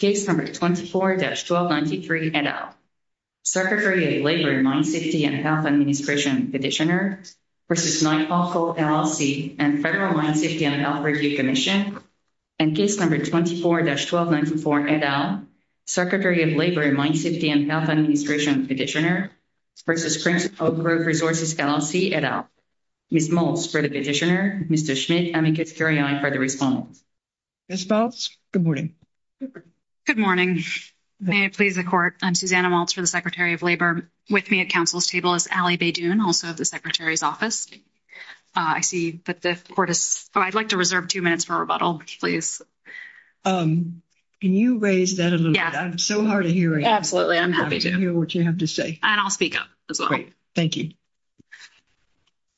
24-1293, et al. Secretary of Labor and Mine Safety and Health Administration, Petitioner, v. Knight Hawk Coal, LLC and Federal Mine Safety and Health Review Commission. And case number 24-1294, et al. Secretary of Labor and Mine Safety and Health Administration, Petitioner, v. Prince Oak Grove Resources, LLC, et al. Ms. Maltz for the petitioner, Mr. Schmidt, and Ms. Gutierrez for the respondent. Ms. Maltz, good morning. Good morning. May it please the court, I'm Susanna Maltz for the Secretary of Labor. With me at council's table is Allie Badun, also of the secretary's office. I see that the court is, I'd like to reserve 2 minutes for rebuttal, please. Can you raise that a little bit? I'm so hard of hearing. Absolutely. I'm happy to hear what you have to say. And I'll speak up as well. Great. Thank you.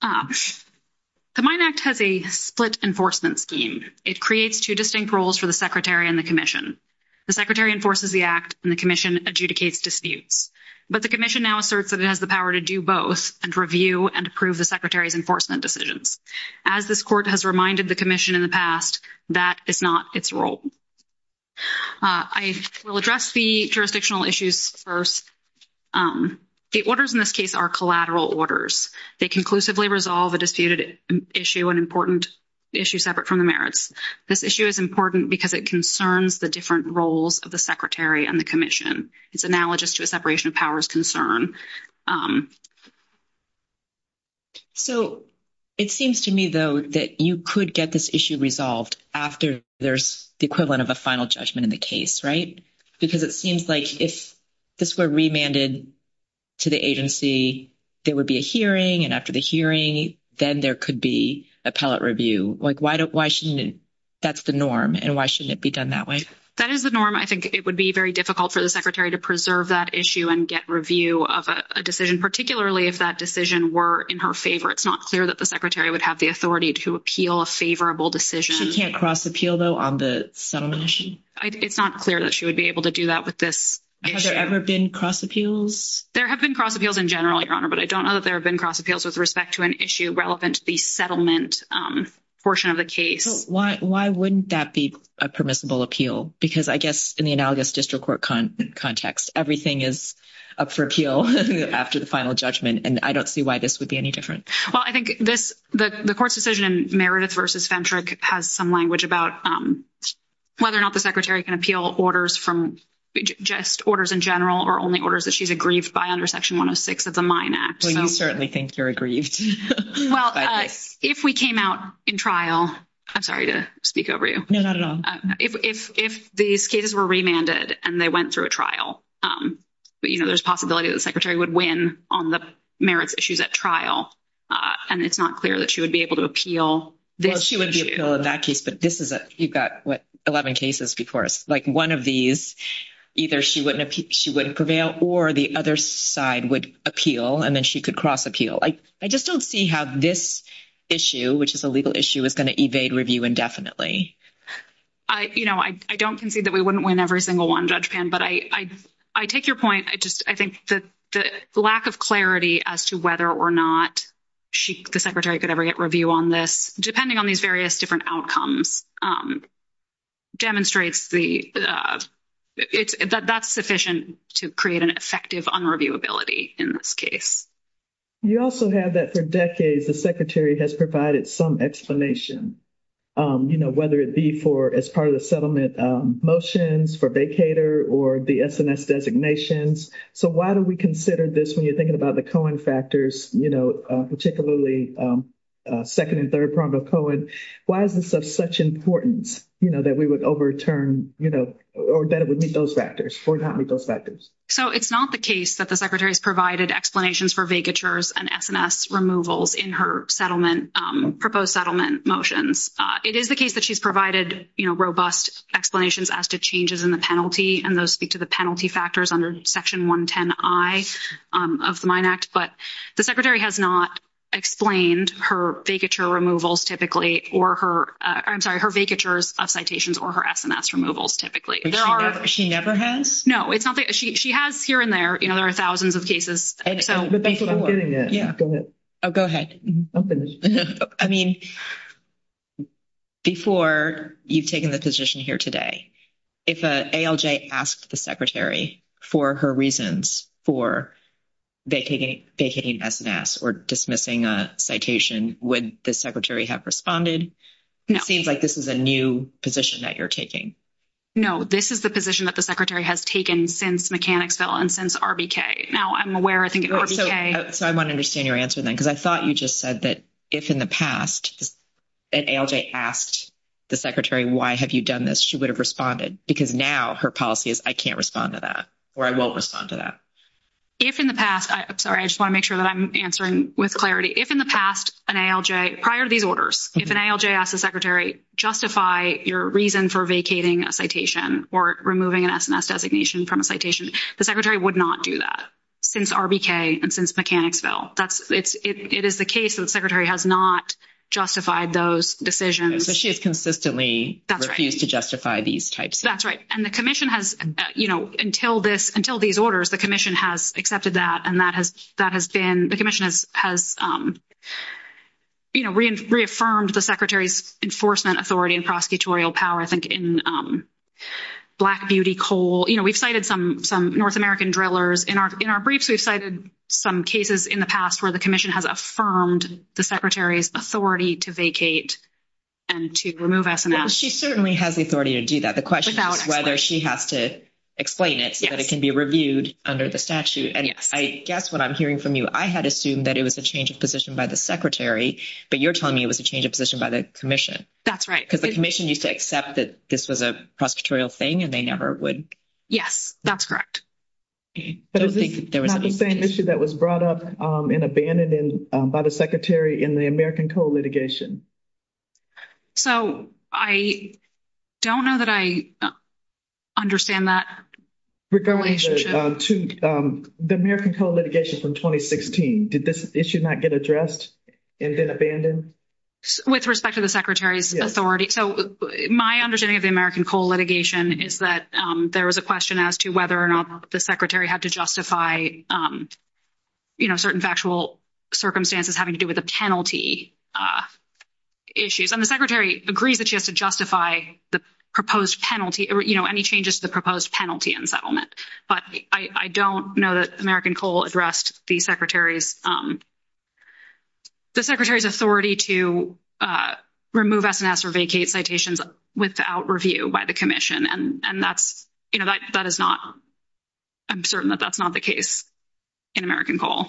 The Mine Act has a split enforcement scheme. It creates 2 distinct roles for the secretary and the commission. The secretary enforces the act and the commission adjudicates disputes. But the commission now asserts that it has the power to do both and review and approve the secretary's enforcement decisions. As this court has reminded the commission in the past, that is not its role. I will address the jurisdictional issues first. The orders in this case are collateral orders. They conclusively resolve a disputed issue, an important issue separate from the merits. This issue is important because it concerns the different roles of the secretary and the commission. It's analogous to a separation of powers concern. So, it seems to me, though, that you could get this issue resolved after there's the equivalent of a final judgment in the case, right? Because it seems like if this were remanded to the agency, there would be a hearing. And after the hearing, then there could be appellate review. Why shouldn't that's the norm. And why shouldn't it be done that way? That is the norm. I think it would be very difficult for the secretary to preserve that issue and get review of a decision, particularly if that decision were in her favor. It's not clear that the secretary would have the authority to appeal a favorable decision. She can't cross appeal, though, on the settlement issue? It's not clear that she would be able to do that with this. Has there ever been cross appeals? There have been cross appeals in general, Your Honor, but I don't know that there have been cross appeals with respect to an issue relevant to the settlement portion of the case. Why wouldn't that be a permissible appeal? Because I guess, in the analogous district court context, everything is up for appeal after the final judgment. And I don't see why this would be any different. Well, I think the court's decision in Meredith v. Femtrick has some language about whether or not the secretary can appeal orders from just orders in general or only orders that she's aggrieved by under Section 106 of the Mine Act. Well, you certainly think you're aggrieved. Well, if we came out in trial, I'm sorry to speak over you. No, not at all. If these cases were remanded and they went through a trial, you know, there's a possibility that the secretary would win on the merits issues at trial, and it's not clear that she would be able to appeal this issue. Well, she would be able to appeal in that case, but this is, you've got, what, 11 cases before us. Like, one of these, either she wouldn't prevail or the other side would appeal, and then she could cross appeal. I just don't see how this issue, which is a legal issue, is going to evade review indefinitely. I, you know, I don't concede that we wouldn't win every single one, Judge Pan, but I take your point. I just, I think that the lack of clarity as to whether or not the secretary could ever get review on this, depending on these various different outcomes, demonstrates that that's sufficient to create an effective unreviewability in this case. You also have that for decades, the secretary has provided some explanation, you know, whether it be for, as part of the settlement motions for vacator or the SNS designations. So, why do we consider this when you're thinking about the Cohen factors, you know, particularly second and third prong of Cohen? Why is this of such importance, you know, that we would overturn, you know, or that it would meet those factors or not meet those factors? So, it's not the case that the secretary has provided explanations for vacatures and SNS removals in her settlement, proposed settlement motions. It is the case that she's provided, you know, robust explanations as to changes in the penalty, and those speak to the penalty factors under Section 110I of the Mine Act. But the secretary has not explained her vacature removals typically, or her, I'm sorry, her vacatures of citations or her SNS removals typically. She never has? No, it's not that, she has here and there, you know, there are thousands of cases, so. But that's what I'm getting at. Yeah. Go ahead. Oh, go ahead. I mean, before you've taken the position here today, if an ALJ asked the secretary for her reasons for vacating SNS or dismissing a citation, would the secretary have responded? No. It seems like this is a new position that you're taking. No, this is the position that the secretary has taken since Mechanicsville and since RBK. Now, I'm aware, I think, of RBK. So I want to understand your answer then, because I thought you just said that if in the past an ALJ asked the secretary, why have you done this? She would have responded, because now her policy is, I can't respond to that, or I won't respond to that. If in the past, I'm sorry, I just want to make sure that I'm answering with clarity. If in the past, an ALJ, prior to these orders, if an ALJ asked the secretary, justify your reason for vacating a citation or removing an SNS designation from a citation, the secretary would not do that since RBK and since Mechanicsville. It is the case that the secretary has not justified those decisions. So she has consistently refused to justify these types. That's right. And the commission has, you know, until these orders, the commission has accepted that. And that has been, the commission has, you know, reaffirmed the secretary's enforcement authority and prosecutorial power, I think, in Black Beauty, Cole. You know, we've cited some North American drillers. In our briefs, we've cited some cases in the past where the commission has affirmed the secretary's authority to vacate and to remove SNS. Well, she certainly has the authority to do that. The question is whether she has to explain it so that it can be reviewed under the statute. And I guess what I'm hearing from you, I had assumed that it was a change of position by the secretary, but you're telling me it was a change of position by the commission. That's right. Because the commission used to accept that this was a prosecutorial thing, and they never would. Yes, that's correct. But is this not the same issue that was brought up and abandoned by the secretary in the American Cole litigation? So, I don't know that I understand that. Regarding the American Cole litigation from 2016, did this issue not get addressed and then abandoned? With respect to the secretary's authority. So, my understanding of the American Cole litigation is that there was a question as to whether or not the secretary had to justify, you know, certain factual circumstances having to do with a penalty. Issues, and the secretary agrees that she has to justify the proposed penalty, you know, any changes to the proposed penalty and settlement. But I don't know that American Cole addressed the secretary's, the secretary's authority to remove SNS or vacate citations without review by the commission. And that's, you know, that is not, I'm certain that that's not the case in American Cole.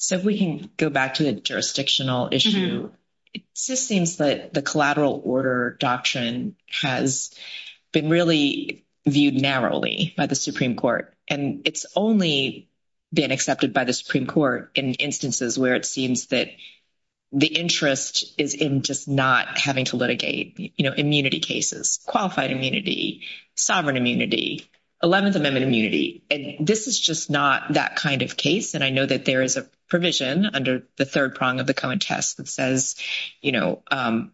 So, if we can go back to the jurisdictional issue, it just seems that the collateral order doctrine has been really viewed narrowly by the Supreme Court. And it's only been accepted by the Supreme Court in instances where it seems that. The interest is in just not having to litigate immunity cases, qualified immunity, sovereign immunity, 11th amendment immunity. And this is just not that kind of case. And I know that there is a provision under the 3rd prong of the Cohen test that says, you know,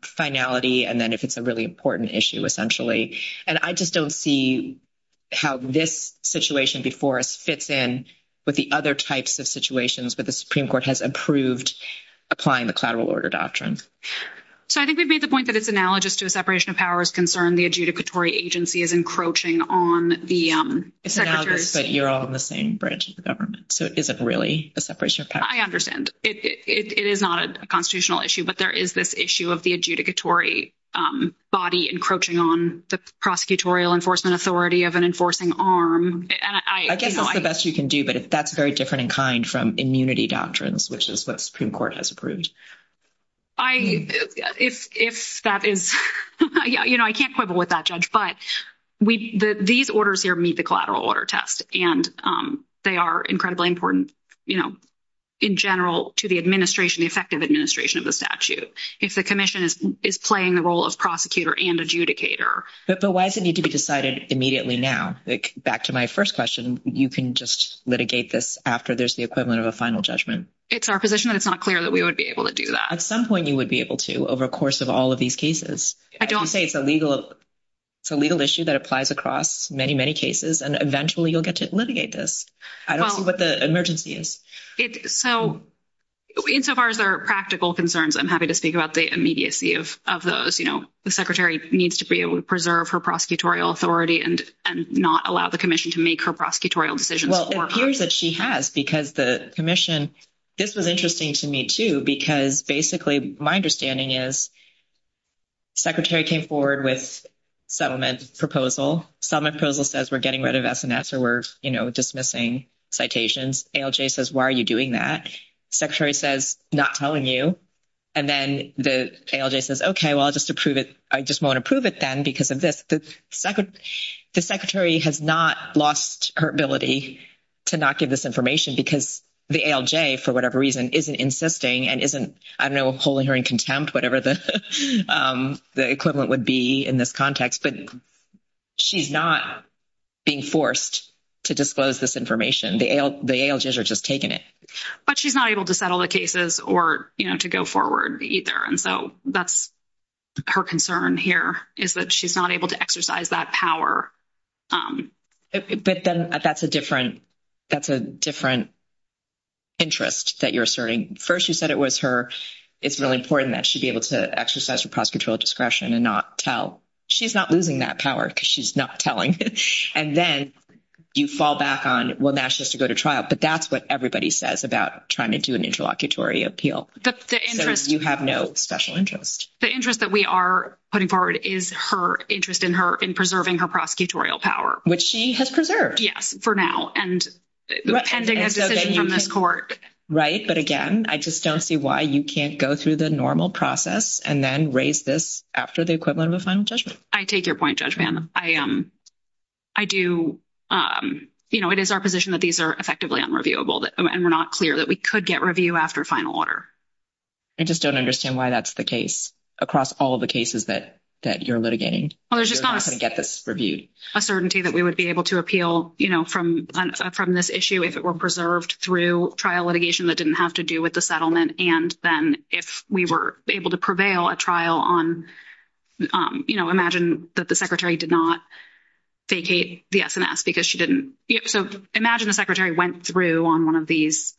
finality. And then if it's a really important issue, essentially, and I just don't see. How this situation before us fits in with the other types of situations, but the Supreme Court has approved applying the collateral order doctrine. So, I think we've made the point that it's analogous to a separation of powers concern. The adjudicatory agency is encroaching on the same branch of the government. So, it isn't really a separation of power. I understand it is not a constitutional issue, but there is this issue of the adjudicatory body encroaching on the prosecutorial enforcement authority of an enforcing arm. I guess it's the best you can do, but that's very different in kind from immunity doctrines, which is what Supreme Court has approved. I, if that is, yeah, you know, I can't quibble with that judge, but we, these orders here meet the collateral order test and they are incredibly important, you know. In general to the administration, effective administration of the statute. If the commission is playing the role of prosecutor and adjudicator, but why does it need to be decided immediately? Now, back to my 1st question, you can just litigate this after there's the equivalent of a final judgment. It's our position that it's not clear that we would be able to do that. At some point. You would be able to over a course of all of these cases. I don't say it's a legal. It's a legal issue that applies across many, many cases and eventually you'll get to litigate this. I don't see what the emergency is. So. Insofar as there are practical concerns, I'm happy to speak about the immediacy of of those, you know, the secretary needs to be able to preserve her prosecutorial authority and and not allow the commission to make her prosecutorial decisions that she has because the commission. This was interesting to me, too, because basically my understanding is. Secretary came forward with settlement proposal, some appraisal says we're getting rid of or we're dismissing citations says, why are you doing that? Secretary says, not telling you. And then the says, okay, well, I'll just approve it. I just want to prove it then because of this, the 2nd, the secretary has not lost her ability. To not give this information, because the for whatever reason isn't insisting and isn't I don't know, holding her in contempt, whatever the, the equivalent would be in this context, but. She's not being forced to disclose this information. The are just taking it, but she's not able to settle the cases or to go forward either. And so that's. Her concern here is that she's not able to exercise that power. But then that's a different. That's a different interest that you're asserting 1st. You said it was her. It's really important that she'd be able to exercise her prosecutorial discretion and not tell. She's not losing that power because she's not telling. And then you fall back on. Well, that's just to go to trial, but that's what everybody says about trying to do an interlocutory appeal. The interest that we are putting forward is her interest in her in preserving her prosecutorial power, which she has preserved. Yes, for now. And. Right, but again, I just don't see why you can't go through the normal process and then raise this after the equivalent of a final judgment. I take your point judgment. I am. I do, you know, it is our position that these are effectively unreviewable and we're not clear that we could get review after final order. I just don't understand why that's the case across all of the cases that that you're litigating. Well, there's just not going to get this reviewed a certainty that we would be able to appeal from from this issue. If it were preserved through trial litigation that didn't have to do with the settlement and then if we were able to prevail a trial on. You know, imagine that the secretary did not vacate the SNS because she didn't. So imagine the secretary went through on 1 of these.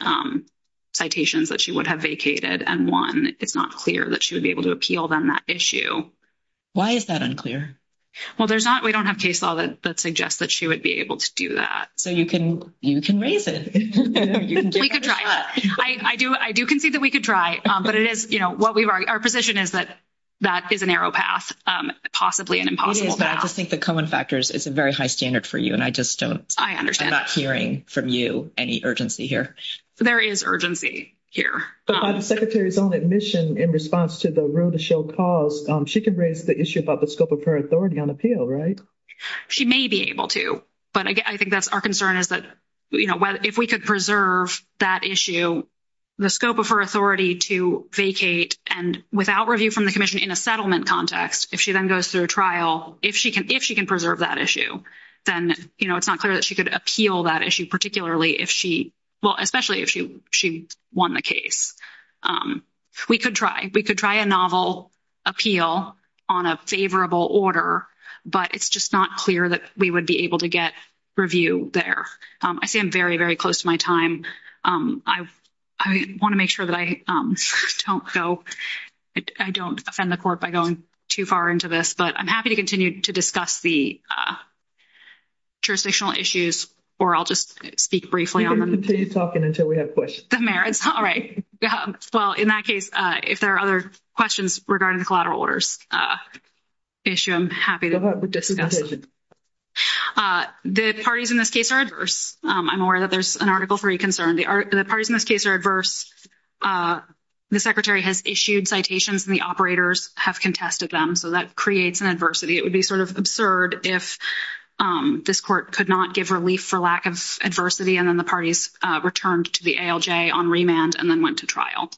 Citations that she would have vacated and 1, it's not clear that she would be able to appeal them that issue. Why is that unclear? Well, there's not we don't have case law that suggests that she would be able to do that. So you can, you can raise it. I do. I do can see that we could try, but it is what we are. Our position is that. That is a narrow path, possibly an impossible, but I just think the common factors is a very high standard for you. And I just don't I understand not hearing from you any urgency here. There is urgency here, but the secretary's own admission in response to the rule to show cause she can raise the issue about the scope of her authority on appeal. Right? She may be able to, but I think that's our concern is that. You know, if we could preserve that issue. The scope of her authority to vacate and without review from the commission in a settlement context, if she then goes through a trial, if she can, if she can preserve that issue, then it's not clear that she could appeal that issue. Particularly if she. Well, especially if she, she won the case, we could try. We could try a novel. Appeal on a favorable order, but it's just not clear that we would be able to get review there. I see. I'm very, very close to my time. I want to make sure that I don't go. I don't offend the court by going too far into this, but I'm happy to continue to discuss the. Jurisdictional issues, or I'll just speak briefly on them until you're talking until we have a question. The merits. All right. Well, in that case, if there are other questions regarding the collateral orders. Issue, I'm happy to discuss it. The parties in this case are adverse. I'm aware that there's an article for a concern. The parties in this case are adverse. The secretary has issued citations and the operators have contested them. So that creates an adversity. It would be sort of absurd if this court could not give relief for lack of adversity. And then the parties returned to the on remand and then went to trial.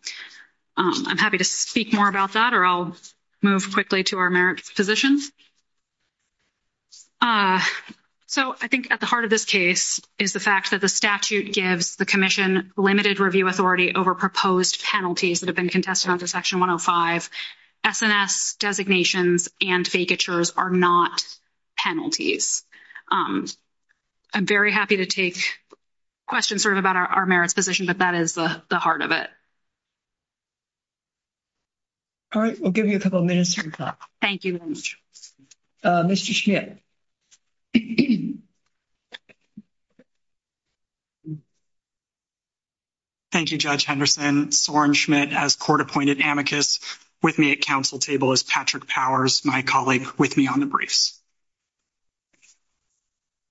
I'm happy to speak more about that, or I'll move quickly to our merit positions. So, I think at the heart of this case is the fact that the statute gives the commission limited review authority over proposed penalties that have been contested under section 105. SNS designations and vacatures are not. Penalties I'm very happy to take. Questions sort of about our merits position, but that is the heart of it. All right, we'll give you a couple of minutes. Thank you. Mr. Thank you. Judge Henderson, Soren Schmidt as court appointed amicus with me at council table is Patrick powers. My colleague with me on the briefs.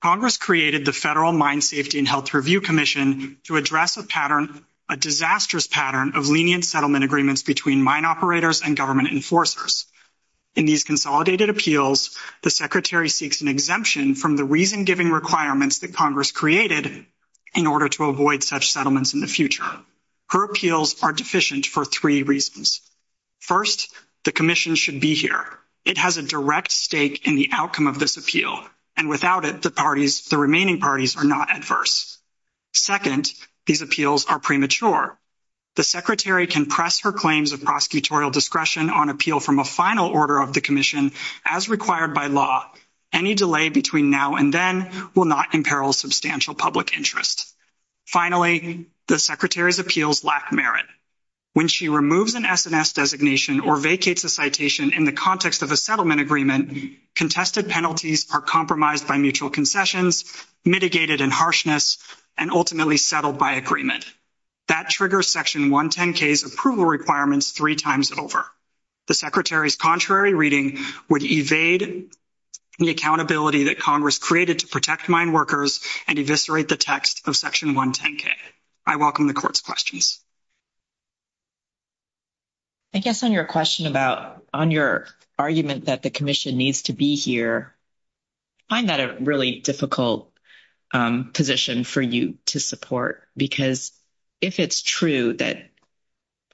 Congress created the federal mine safety and health review commission to address a pattern, a disastrous pattern of lenient settlement agreements between mine operators and government enforcers. In these consolidated appeals, the secretary seeks an exemption from the reason giving requirements that Congress created. In order to avoid such settlements in the future, her appeals are deficient for 3 reasons. 1st, the commission should be here. It has a direct stake in the outcome of this appeal and without it, the parties, the remaining parties are not adverse. 2nd, these appeals are premature. The secretary can press her claims of prosecutorial discretion on appeal from a final order of the commission as required by law. Any delay between now and then will not imperil substantial public interest. Finally, the secretary's appeals lack merit. When she removes an SNS designation or vacates a citation in the context of a settlement agreement, contested penalties are compromised by mutual concessions, mitigated and harshness and ultimately settled by agreement. That triggers section 110K's approval requirements 3 times over. The secretary's contrary reading would evade the accountability that Congress created to protect mine workers and eviscerate the text of section 110K. I welcome the court's questions. I guess on your question about on your argument that the commission needs to be here. I find that a really difficult position for you to support because if it's true that.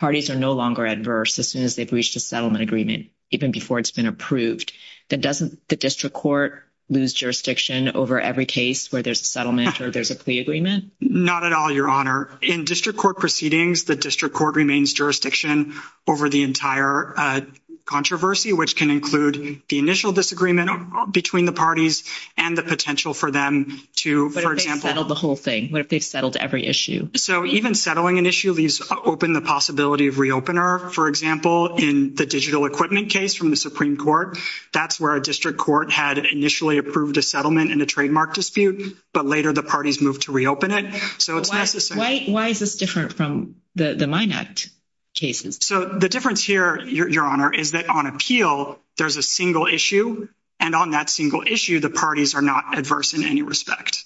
Parties are no longer adverse as soon as they've reached a settlement agreement, even before it's been approved. That doesn't the district court lose jurisdiction over every case where there's a settlement or there's a plea agreement. Not at all. Your honor in district court proceedings. The district court remains jurisdiction over the entire controversy, which can include the initial disagreement between the parties and the potential for them to settle the whole thing. What if they've settled every issue? So, even settling an issue, these open the possibility of reopen our, for example, in the digital equipment case from the Supreme Court, that's where a district court had initially approved a settlement in a trademark dispute. But later, the parties moved to reopen it. So, it's necessary. Why is this different from the, the. Cases, so the difference here, your honor is that on appeal, there's a single issue and on that single issue, the parties are not adverse in any respect.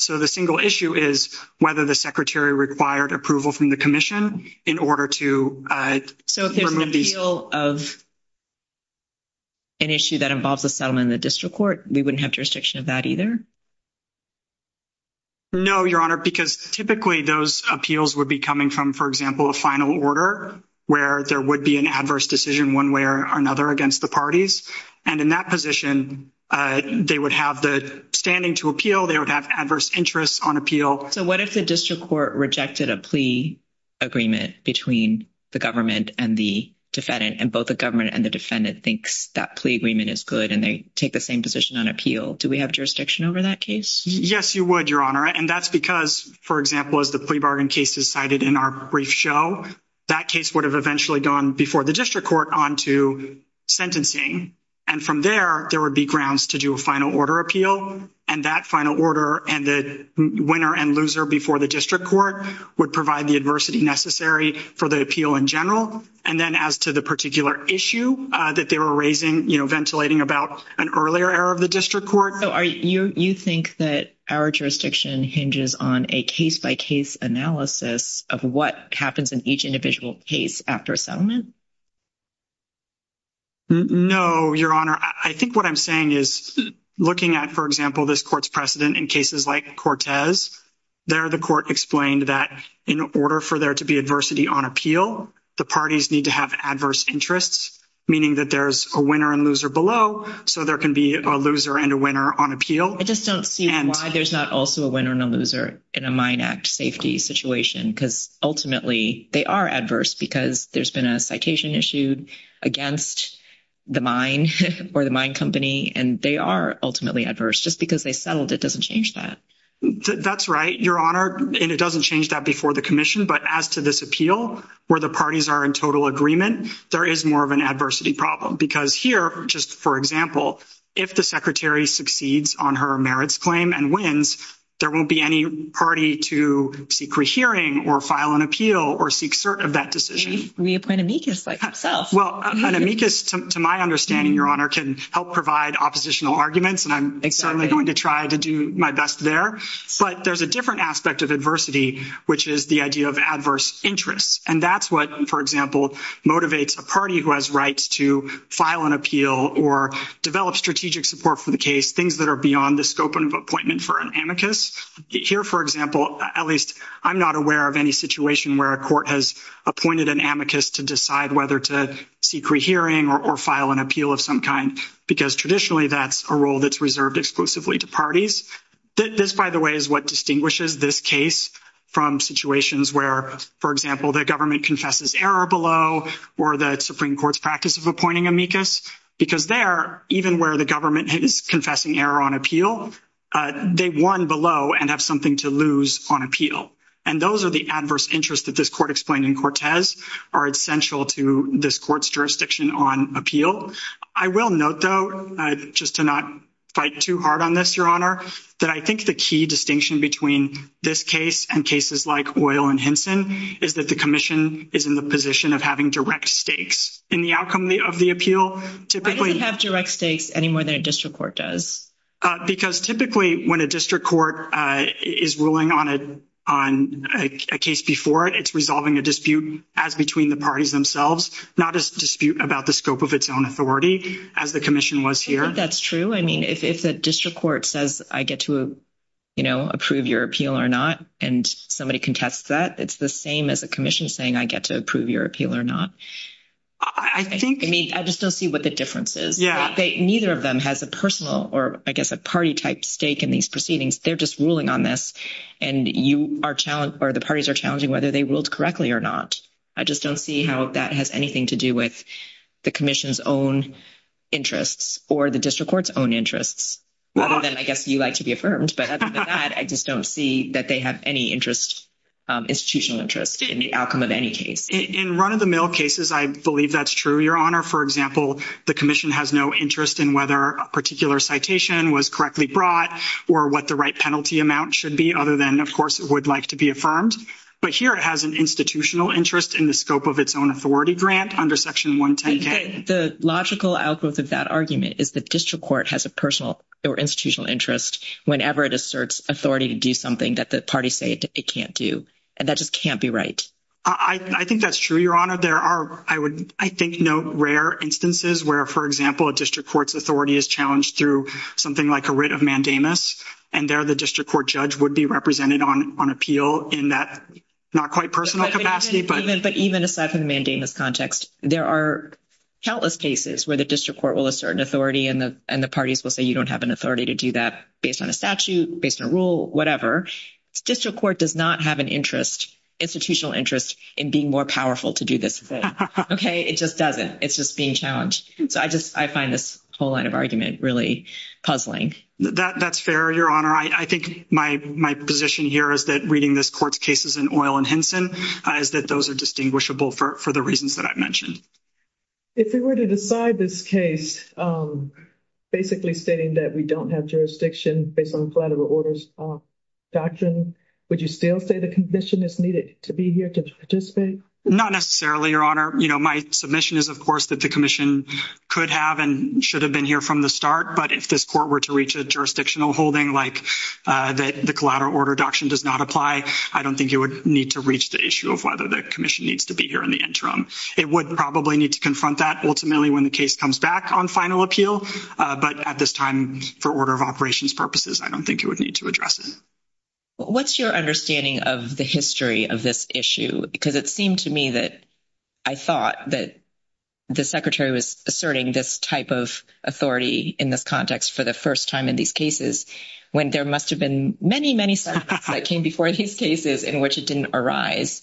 So, the single issue is whether the secretary required approval from the commission in order to so there's an appeal of. An issue that involves a settlement in the district court, we wouldn't have jurisdiction of that either. No, your honor, because typically those appeals would be coming from, for example, a final order where there would be an adverse decision 1 way or another against the parties. And in that position, they would have the standing to appeal. They would have adverse interests on appeal. So, what if the district court rejected a plea agreement between the government and the defendant and both the government and the defendant thinks that plea agreement is good. And they take the same position on appeal. Do we have jurisdiction over that case? Yes, you would your honor and that's because, for example, as the plea bargain cases cited in our brief show, that case would have eventually gone before the district court on to sentencing. And from there, there would be grounds to do a final order appeal and that final order and the winner and loser before the district court would provide the adversity necessary for the appeal in general. And then, as to the particular issue that they were raising, ventilating about an earlier era of the district court. So, are you think that our jurisdiction hinges on a case by case analysis of what happens in each individual case after settlement? No, your honor, I think what I'm saying is looking at, for example, this court's precedent in cases like Cortez. There, the court explained that in order for there to be adversity on appeal, the parties need to have adverse interests, meaning that there's a winner and loser below. So there can be a loser and a winner on appeal. I just don't see why there's not also a winner and a loser in a mine act safety situation because ultimately they are adverse because there's been a citation issued against the mine or the mine company. And they are ultimately adverse just because they settled. It doesn't change that. That's right. Your honor. And it doesn't change that before the commission. But as to this appeal, where the parties are in total agreement, there is more of an adversity problem because here, just, for example, if the secretary succeeds on her merits claim and wins, there won't be any party to seek rehearing or file an appeal or seek cert of that decision reappointed me. Well, to my understanding, your honor can help provide oppositional arguments, and I'm certainly going to try to do my best there, but there's a different aspect of adversity, which is the idea of adverse interests. And that's what, for example, motivates a party who has rights to file an appeal or develop strategic support for the case. Things that are beyond the scope of appointment for an amicus here. For example, at least I'm not aware of any situation where a court has appointed an amicus to decide whether to seek rehearing or file an appeal of some kind, because traditionally, that's a role that's reserved exclusively to parties. That this, by the way, is what distinguishes this case from situations where, for example, the government confesses error below or the Supreme Court's practice of appointing amicus, because they're even where the government is confessing error on appeal. They won below and have something to lose on appeal. And those are the adverse interest that this court explained in Cortez are essential to this court's jurisdiction on appeal. I will note, though, just to not fight too hard on this, your honor, that I think the key distinction between this case and cases like oil and Hinson is that the commission is in the position of having direct stakes in the outcome of the appeal typically have direct stakes any more than a district court does. Because typically, when a district court is ruling on it on a case before it, it's resolving a dispute as between the parties themselves, not dispute about the scope of its own authority as the commission was here. That's true. I mean, if it's a district court says, I get to approve your appeal or not, and somebody contests that it's the same as a commission saying, I get to approve your appeal or not. I think I just don't see what the difference is. Neither of them has a personal or, I guess, a party type stake in these proceedings. They're just ruling on this and you are challenged or the parties are challenging whether they ruled correctly or not. I just don't see how that has anything to do with the commission's own interests or the district court's own interests. I guess you like to be affirmed, but I just don't see that they have any interest institutional interest in the outcome of any case in run of the mill cases. I believe that's true. Your honor. For example, the commission has no interest in whether a particular citation was correctly brought or what the right penalty amount should be. Other than, of course, it would like to be affirmed, but here it has an institutional interest in the scope of its own authority grant under section. The logical outgrowth of that argument is the district court has a personal or institutional interest whenever it asserts authority to do something that the parties say it can't do. And that just can't be right. I think that's true. Your honor. There are, I would, I think, no rare instances where, for example, a district court's authority is challenged through something like a writ of mandamus and there, the district court judge would be represented on appeal in that not quite personal capacity. But even aside from mandamus context, there are countless cases where the district court will assert an authority and the parties will say, you don't have an authority to do that based on a statute based on rule, whatever district court does not have an interest institutional interest in being more powerful to do this. Okay. It just doesn't. It's just being challenged. So I just, I find this whole line of argument really puzzling that that's fair. Your honor. I, I think my, my position here is that reading this court's cases in oil and Henson is that those are distinguishable for the reasons that I've mentioned. If we were to decide this case, basically stating that we don't have jurisdiction based on collateral orders doctrine, would you still say the condition is needed to be here to participate? Not necessarily your honor, my submission is, of course, that the commission could have and should have been here from the start. But if this court were to reach a jurisdictional holding, like that, the collateral order doctrine does not apply. I don't think you would need to reach the issue of whether the commission needs to be here in the interim. It would probably need to confront that. Ultimately, when the case comes back on final appeal, but at this time, for order of operations purposes, I don't think it would need to address it. What's your understanding of the history of this issue? Because it seemed to me that. I thought that the secretary was asserting this type of authority in this context for the 1st time in these cases when there must have been many, many that came before these cases in which it didn't arise.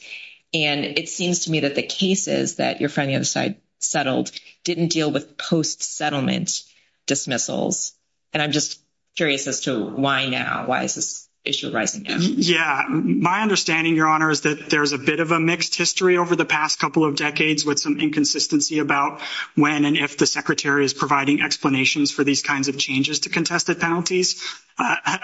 And it seems to me that the cases that you're from the other side settled didn't deal with post settlement dismissals. And I'm just curious as to why now? Why is this issue rising? Yeah, my understanding. Your honor is that there's a bit of a mixed history over the past couple of decades with some inconsistency about when and if the secretary is providing explanations for these kinds of changes to contested penalties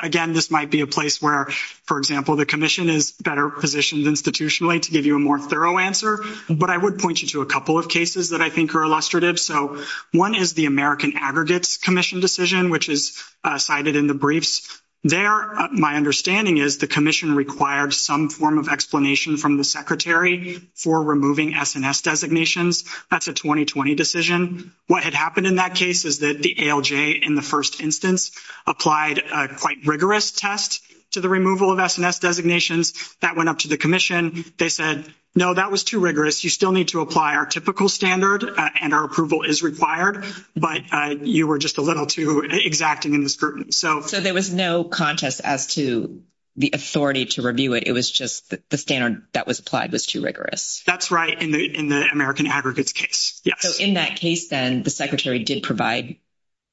again. This might be a place where, for example, the commission is better positioned institutionally to give you a more thorough answer, but I would point you to a couple of cases that I think are illustrative. So, 1 is the American aggregates commission decision, which is cited in the briefs there. My understanding is the commission required some form of explanation from the secretary for removing SNS designations. That's a 2020 decision. What had happened in that case is that the in the 1st instance applied quite rigorous test to the removal of SNS designations. That went up to the commission. They said, no, that was too rigorous. You still need to apply our typical standard and our approval is required, but you were just a little too exacting in this group. So, so there was no contest as to the authority to review it. It was just the standard that was applied was too rigorous. That's right in the, in the American aggregates case. Yes, in that case, then the secretary did provide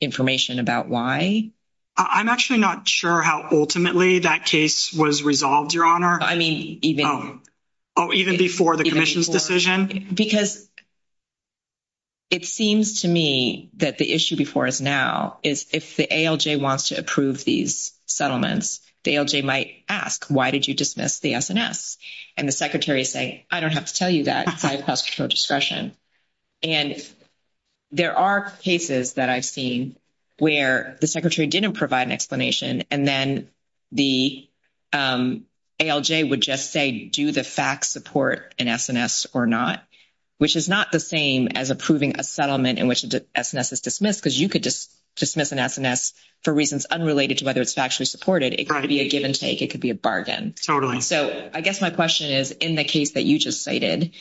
information about why. I'm actually not sure how ultimately that case was resolved your honor. I mean, even. Oh, even before the commission's decision, because. It seems to me that the issue before is now is if the wants to approve these settlements, they might ask, why did you dismiss the SNS? And the secretary is saying, I don't have to tell you that discretion. And there are cases that I've seen where the secretary didn't provide an explanation and then. The would just say, do the facts support an SNS or not. Which is not the same as approving a settlement in which is dismissed because you could just dismiss an SNS for reasons unrelated to whether it's actually supported. It could be a give and take. It could be a bargain. Totally. So, I guess my question is, in the case that you just cited,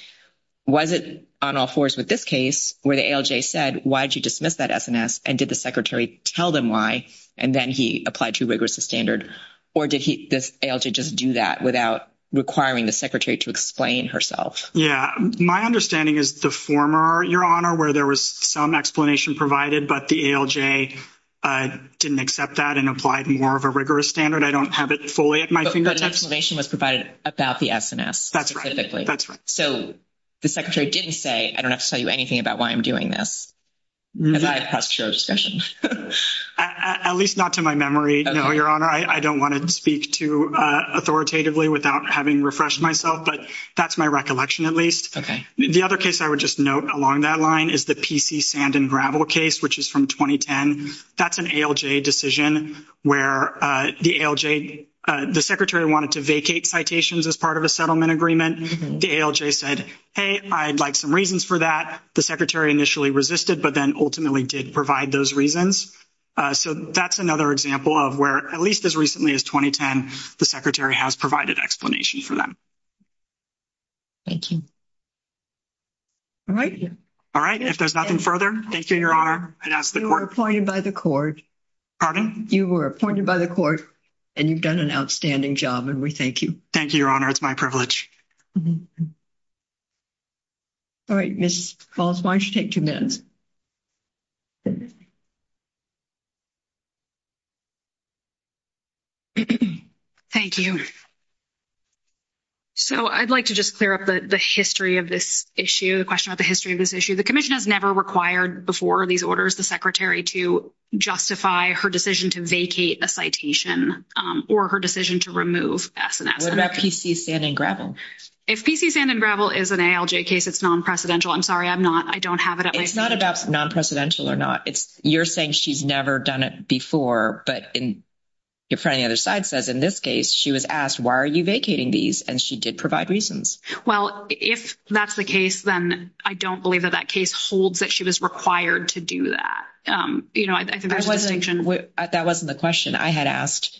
was it on all 4s with this case where the said, why did you dismiss that SNS? And did the secretary tell them why? And then he applied to rigorous standard, or did he just do that without requiring the secretary to explain herself? Yeah, my understanding is the former your honor where there was some explanation provided, but the. I didn't accept that and applied more of a rigorous standard. I don't have it fully at my finger. Exclamation was provided about the SNS. That's right. That's right. So. The secretary didn't say, I don't have to tell you anything about why I'm doing this. As I passed your discussion, at least not to my memory. No, your honor. I don't want to speak to authoritatively without having refreshed myself, but that's my recollection. At least. Okay. The other case I would just note along that line is the PC sand and gravel case, which is from 2010. that's an ALJ decision where the ALJ, the secretary wanted to vacate citations as part of a settlement agreement. The ALJ said, hey, I'd like some reasons for that. The secretary initially resisted, but then ultimately did provide those reasons. So, that's another example of where, at least as recently as 2010, the secretary has provided explanation for them. Thank you. All right. All right, if there's nothing further, thank you, your honor. You were appointed by the court. Pardon? You were appointed by the court and you've done an outstanding job and we thank you. Thank you. Your honor. It's my privilege. All right, Miss Falls, why don't you take 2 minutes? Thank you. So, I'd like to just clear up the history of this issue, the question about the history of this issue. The commission has never required before these orders, the secretary to justify her decision to vacate a citation or her decision to remove S&S. What about PC sand and gravel? If PC sand and gravel is an ALJ case, it's non-precedential. I'm sorry. I'm not, I don't have it. It's not about non-precedential or not. It's you're saying she's never done it before. But in your friend, the other side says, in this case, she was asked, why are you vacating these? And she did provide reasons. Well, if that's the case, then I don't believe that that case holds that she was required to do that. That wasn't the question. I had asked,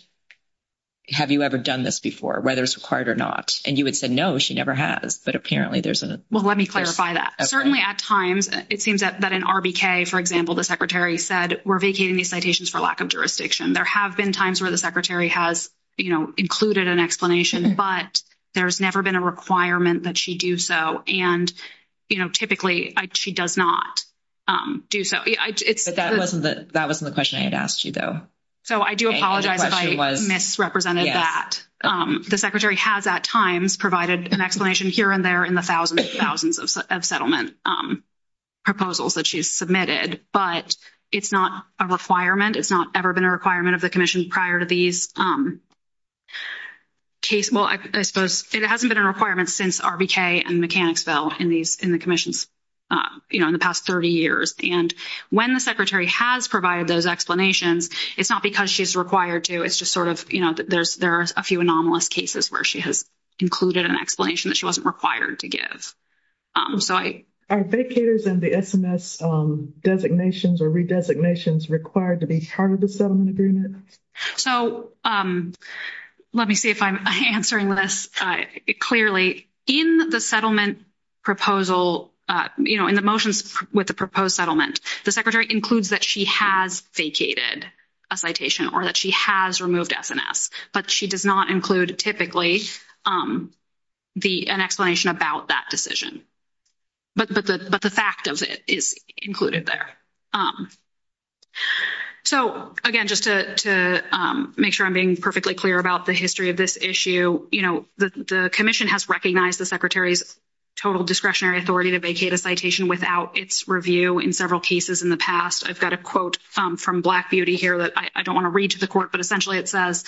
have you ever done this before, whether it's required or not? And you had said, no, she never has. But apparently there's a, well, let me clarify that certainly at times, it seems that that an RBK, for example, the secretary said, we're vacating these citations for lack of jurisdiction. There have been times where the secretary has included an explanation, but there's never been a requirement that she do so. And typically she does not do. So it's that wasn't that wasn't the question I had asked you, though. So I do apologize if I misrepresented that the secretary has at times provided an explanation here and there in the thousands and thousands of settlement proposals that she's submitted, but it's not a requirement. It's not ever been a requirement of the commission prior to these. Well, I suppose it hasn't been a requirement since RBK and Mechanicsville in these in the commissions in the past 30 years. And when the secretary has provided those explanations, it's not because she's required to, it's just sort of, you know, there's there's a few anomalous cases where she has included an explanation that she wasn't required to give. So I. Are vacators in the SMS designations or redesignations required to be part of the settlement agreement? So let me see if I'm answering this clearly. In the settlement proposal, you know, in the motions with the proposed settlement, the secretary includes that she has vacated a citation or that she has removed SMS. But she does not include typically the an explanation about that decision, but but the, but the fact of it is included there. So, again, just to make sure I'm being perfectly clear about the history of this issue, you know, the commission has recognized the secretary's total discretionary authority to vacate a citation without its review in several cases in the past. I've got a quote from black beauty here that I don't want to read to the court, but essentially, it says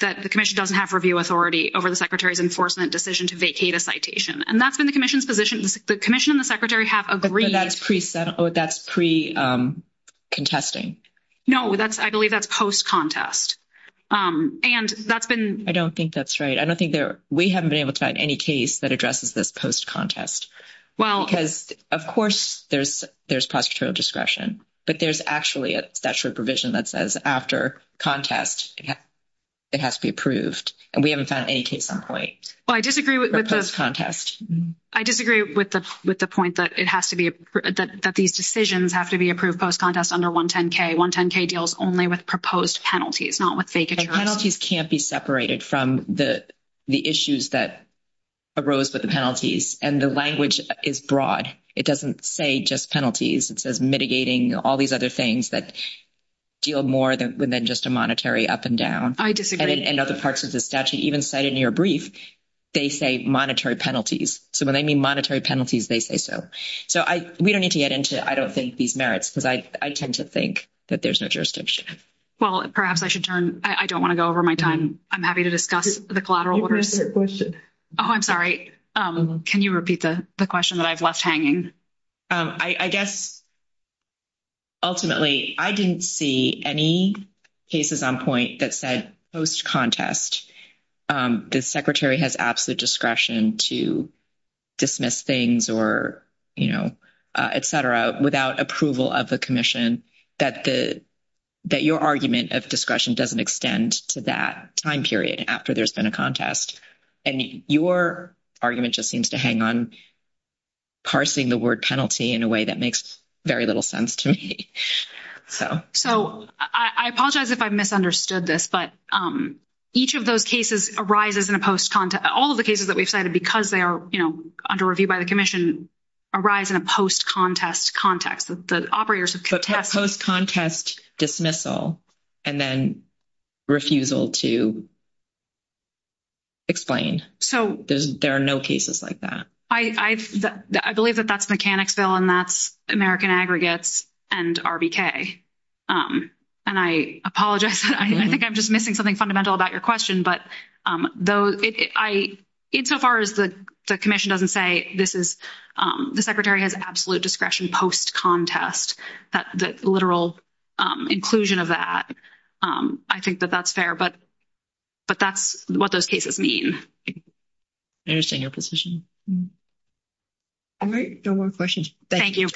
that the commission doesn't have review authority over the secretary's enforcement decision to vacate a citation. And that's been the commission's position. The commission and the secretary have agreed that's pre that's pre contesting. No, that's I believe that's post contest and that's been I don't think that's right. I don't think there we haven't been able to find any case that addresses this post contest. Well, because, of course, there's there's discretion, but there's actually a statute provision that says after contest. It has to be approved and we haven't found any case on point. Well, I disagree with this contest. I disagree with the, with the point that it has to be that these decisions have to be approved post contest under 1, 10 K, 1, 10 K deals only with proposed penalties. It's not what penalties can't be separated from the, the issues that arose with the penalties and the language is broad. It doesn't say just penalties. It says mitigating all these other things that deal more than than just a monetary up and down. I disagree and other parts of the statute, even cited in your brief, they say monetary penalties. So, when they mean monetary penalties, they say so. So I, we don't need to get into. I don't think these merits because I, I tend to think that there's no jurisdiction. Well, perhaps I should turn I don't want to go over my time. I'm happy to discuss the collateral. Oh, I'm sorry. Can you repeat the question that I've left hanging? I, I guess, ultimately, I didn't see any cases on point that said post contest. The secretary has absolute discretion to. Dismiss things, or, you know, et cetera without approval of the commission that the. That your argument of discretion doesn't extend to that time period after there's been a contest and your argument just seems to hang on. Parsing the word penalty in a way that makes very little sense to me. So, so I apologize if I misunderstood this, but. Each of those cases arises in a post all of the cases that we've cited because they are under review by the commission. A rise in a post contest context, the operators of contest contest dismissal. And then refusal to explain. So there are no cases like that. I, I, I believe that that's mechanics bill and that's American aggregates and. And I apologize, I think I'm just missing something fundamental about your question, but though I. In so far as the commission doesn't say this is the secretary has absolute discretion post contest that the literal. Inclusion of that, I think that that's fair, but. But that's what those cases mean. I understand your position. All right. No more questions. Thank you.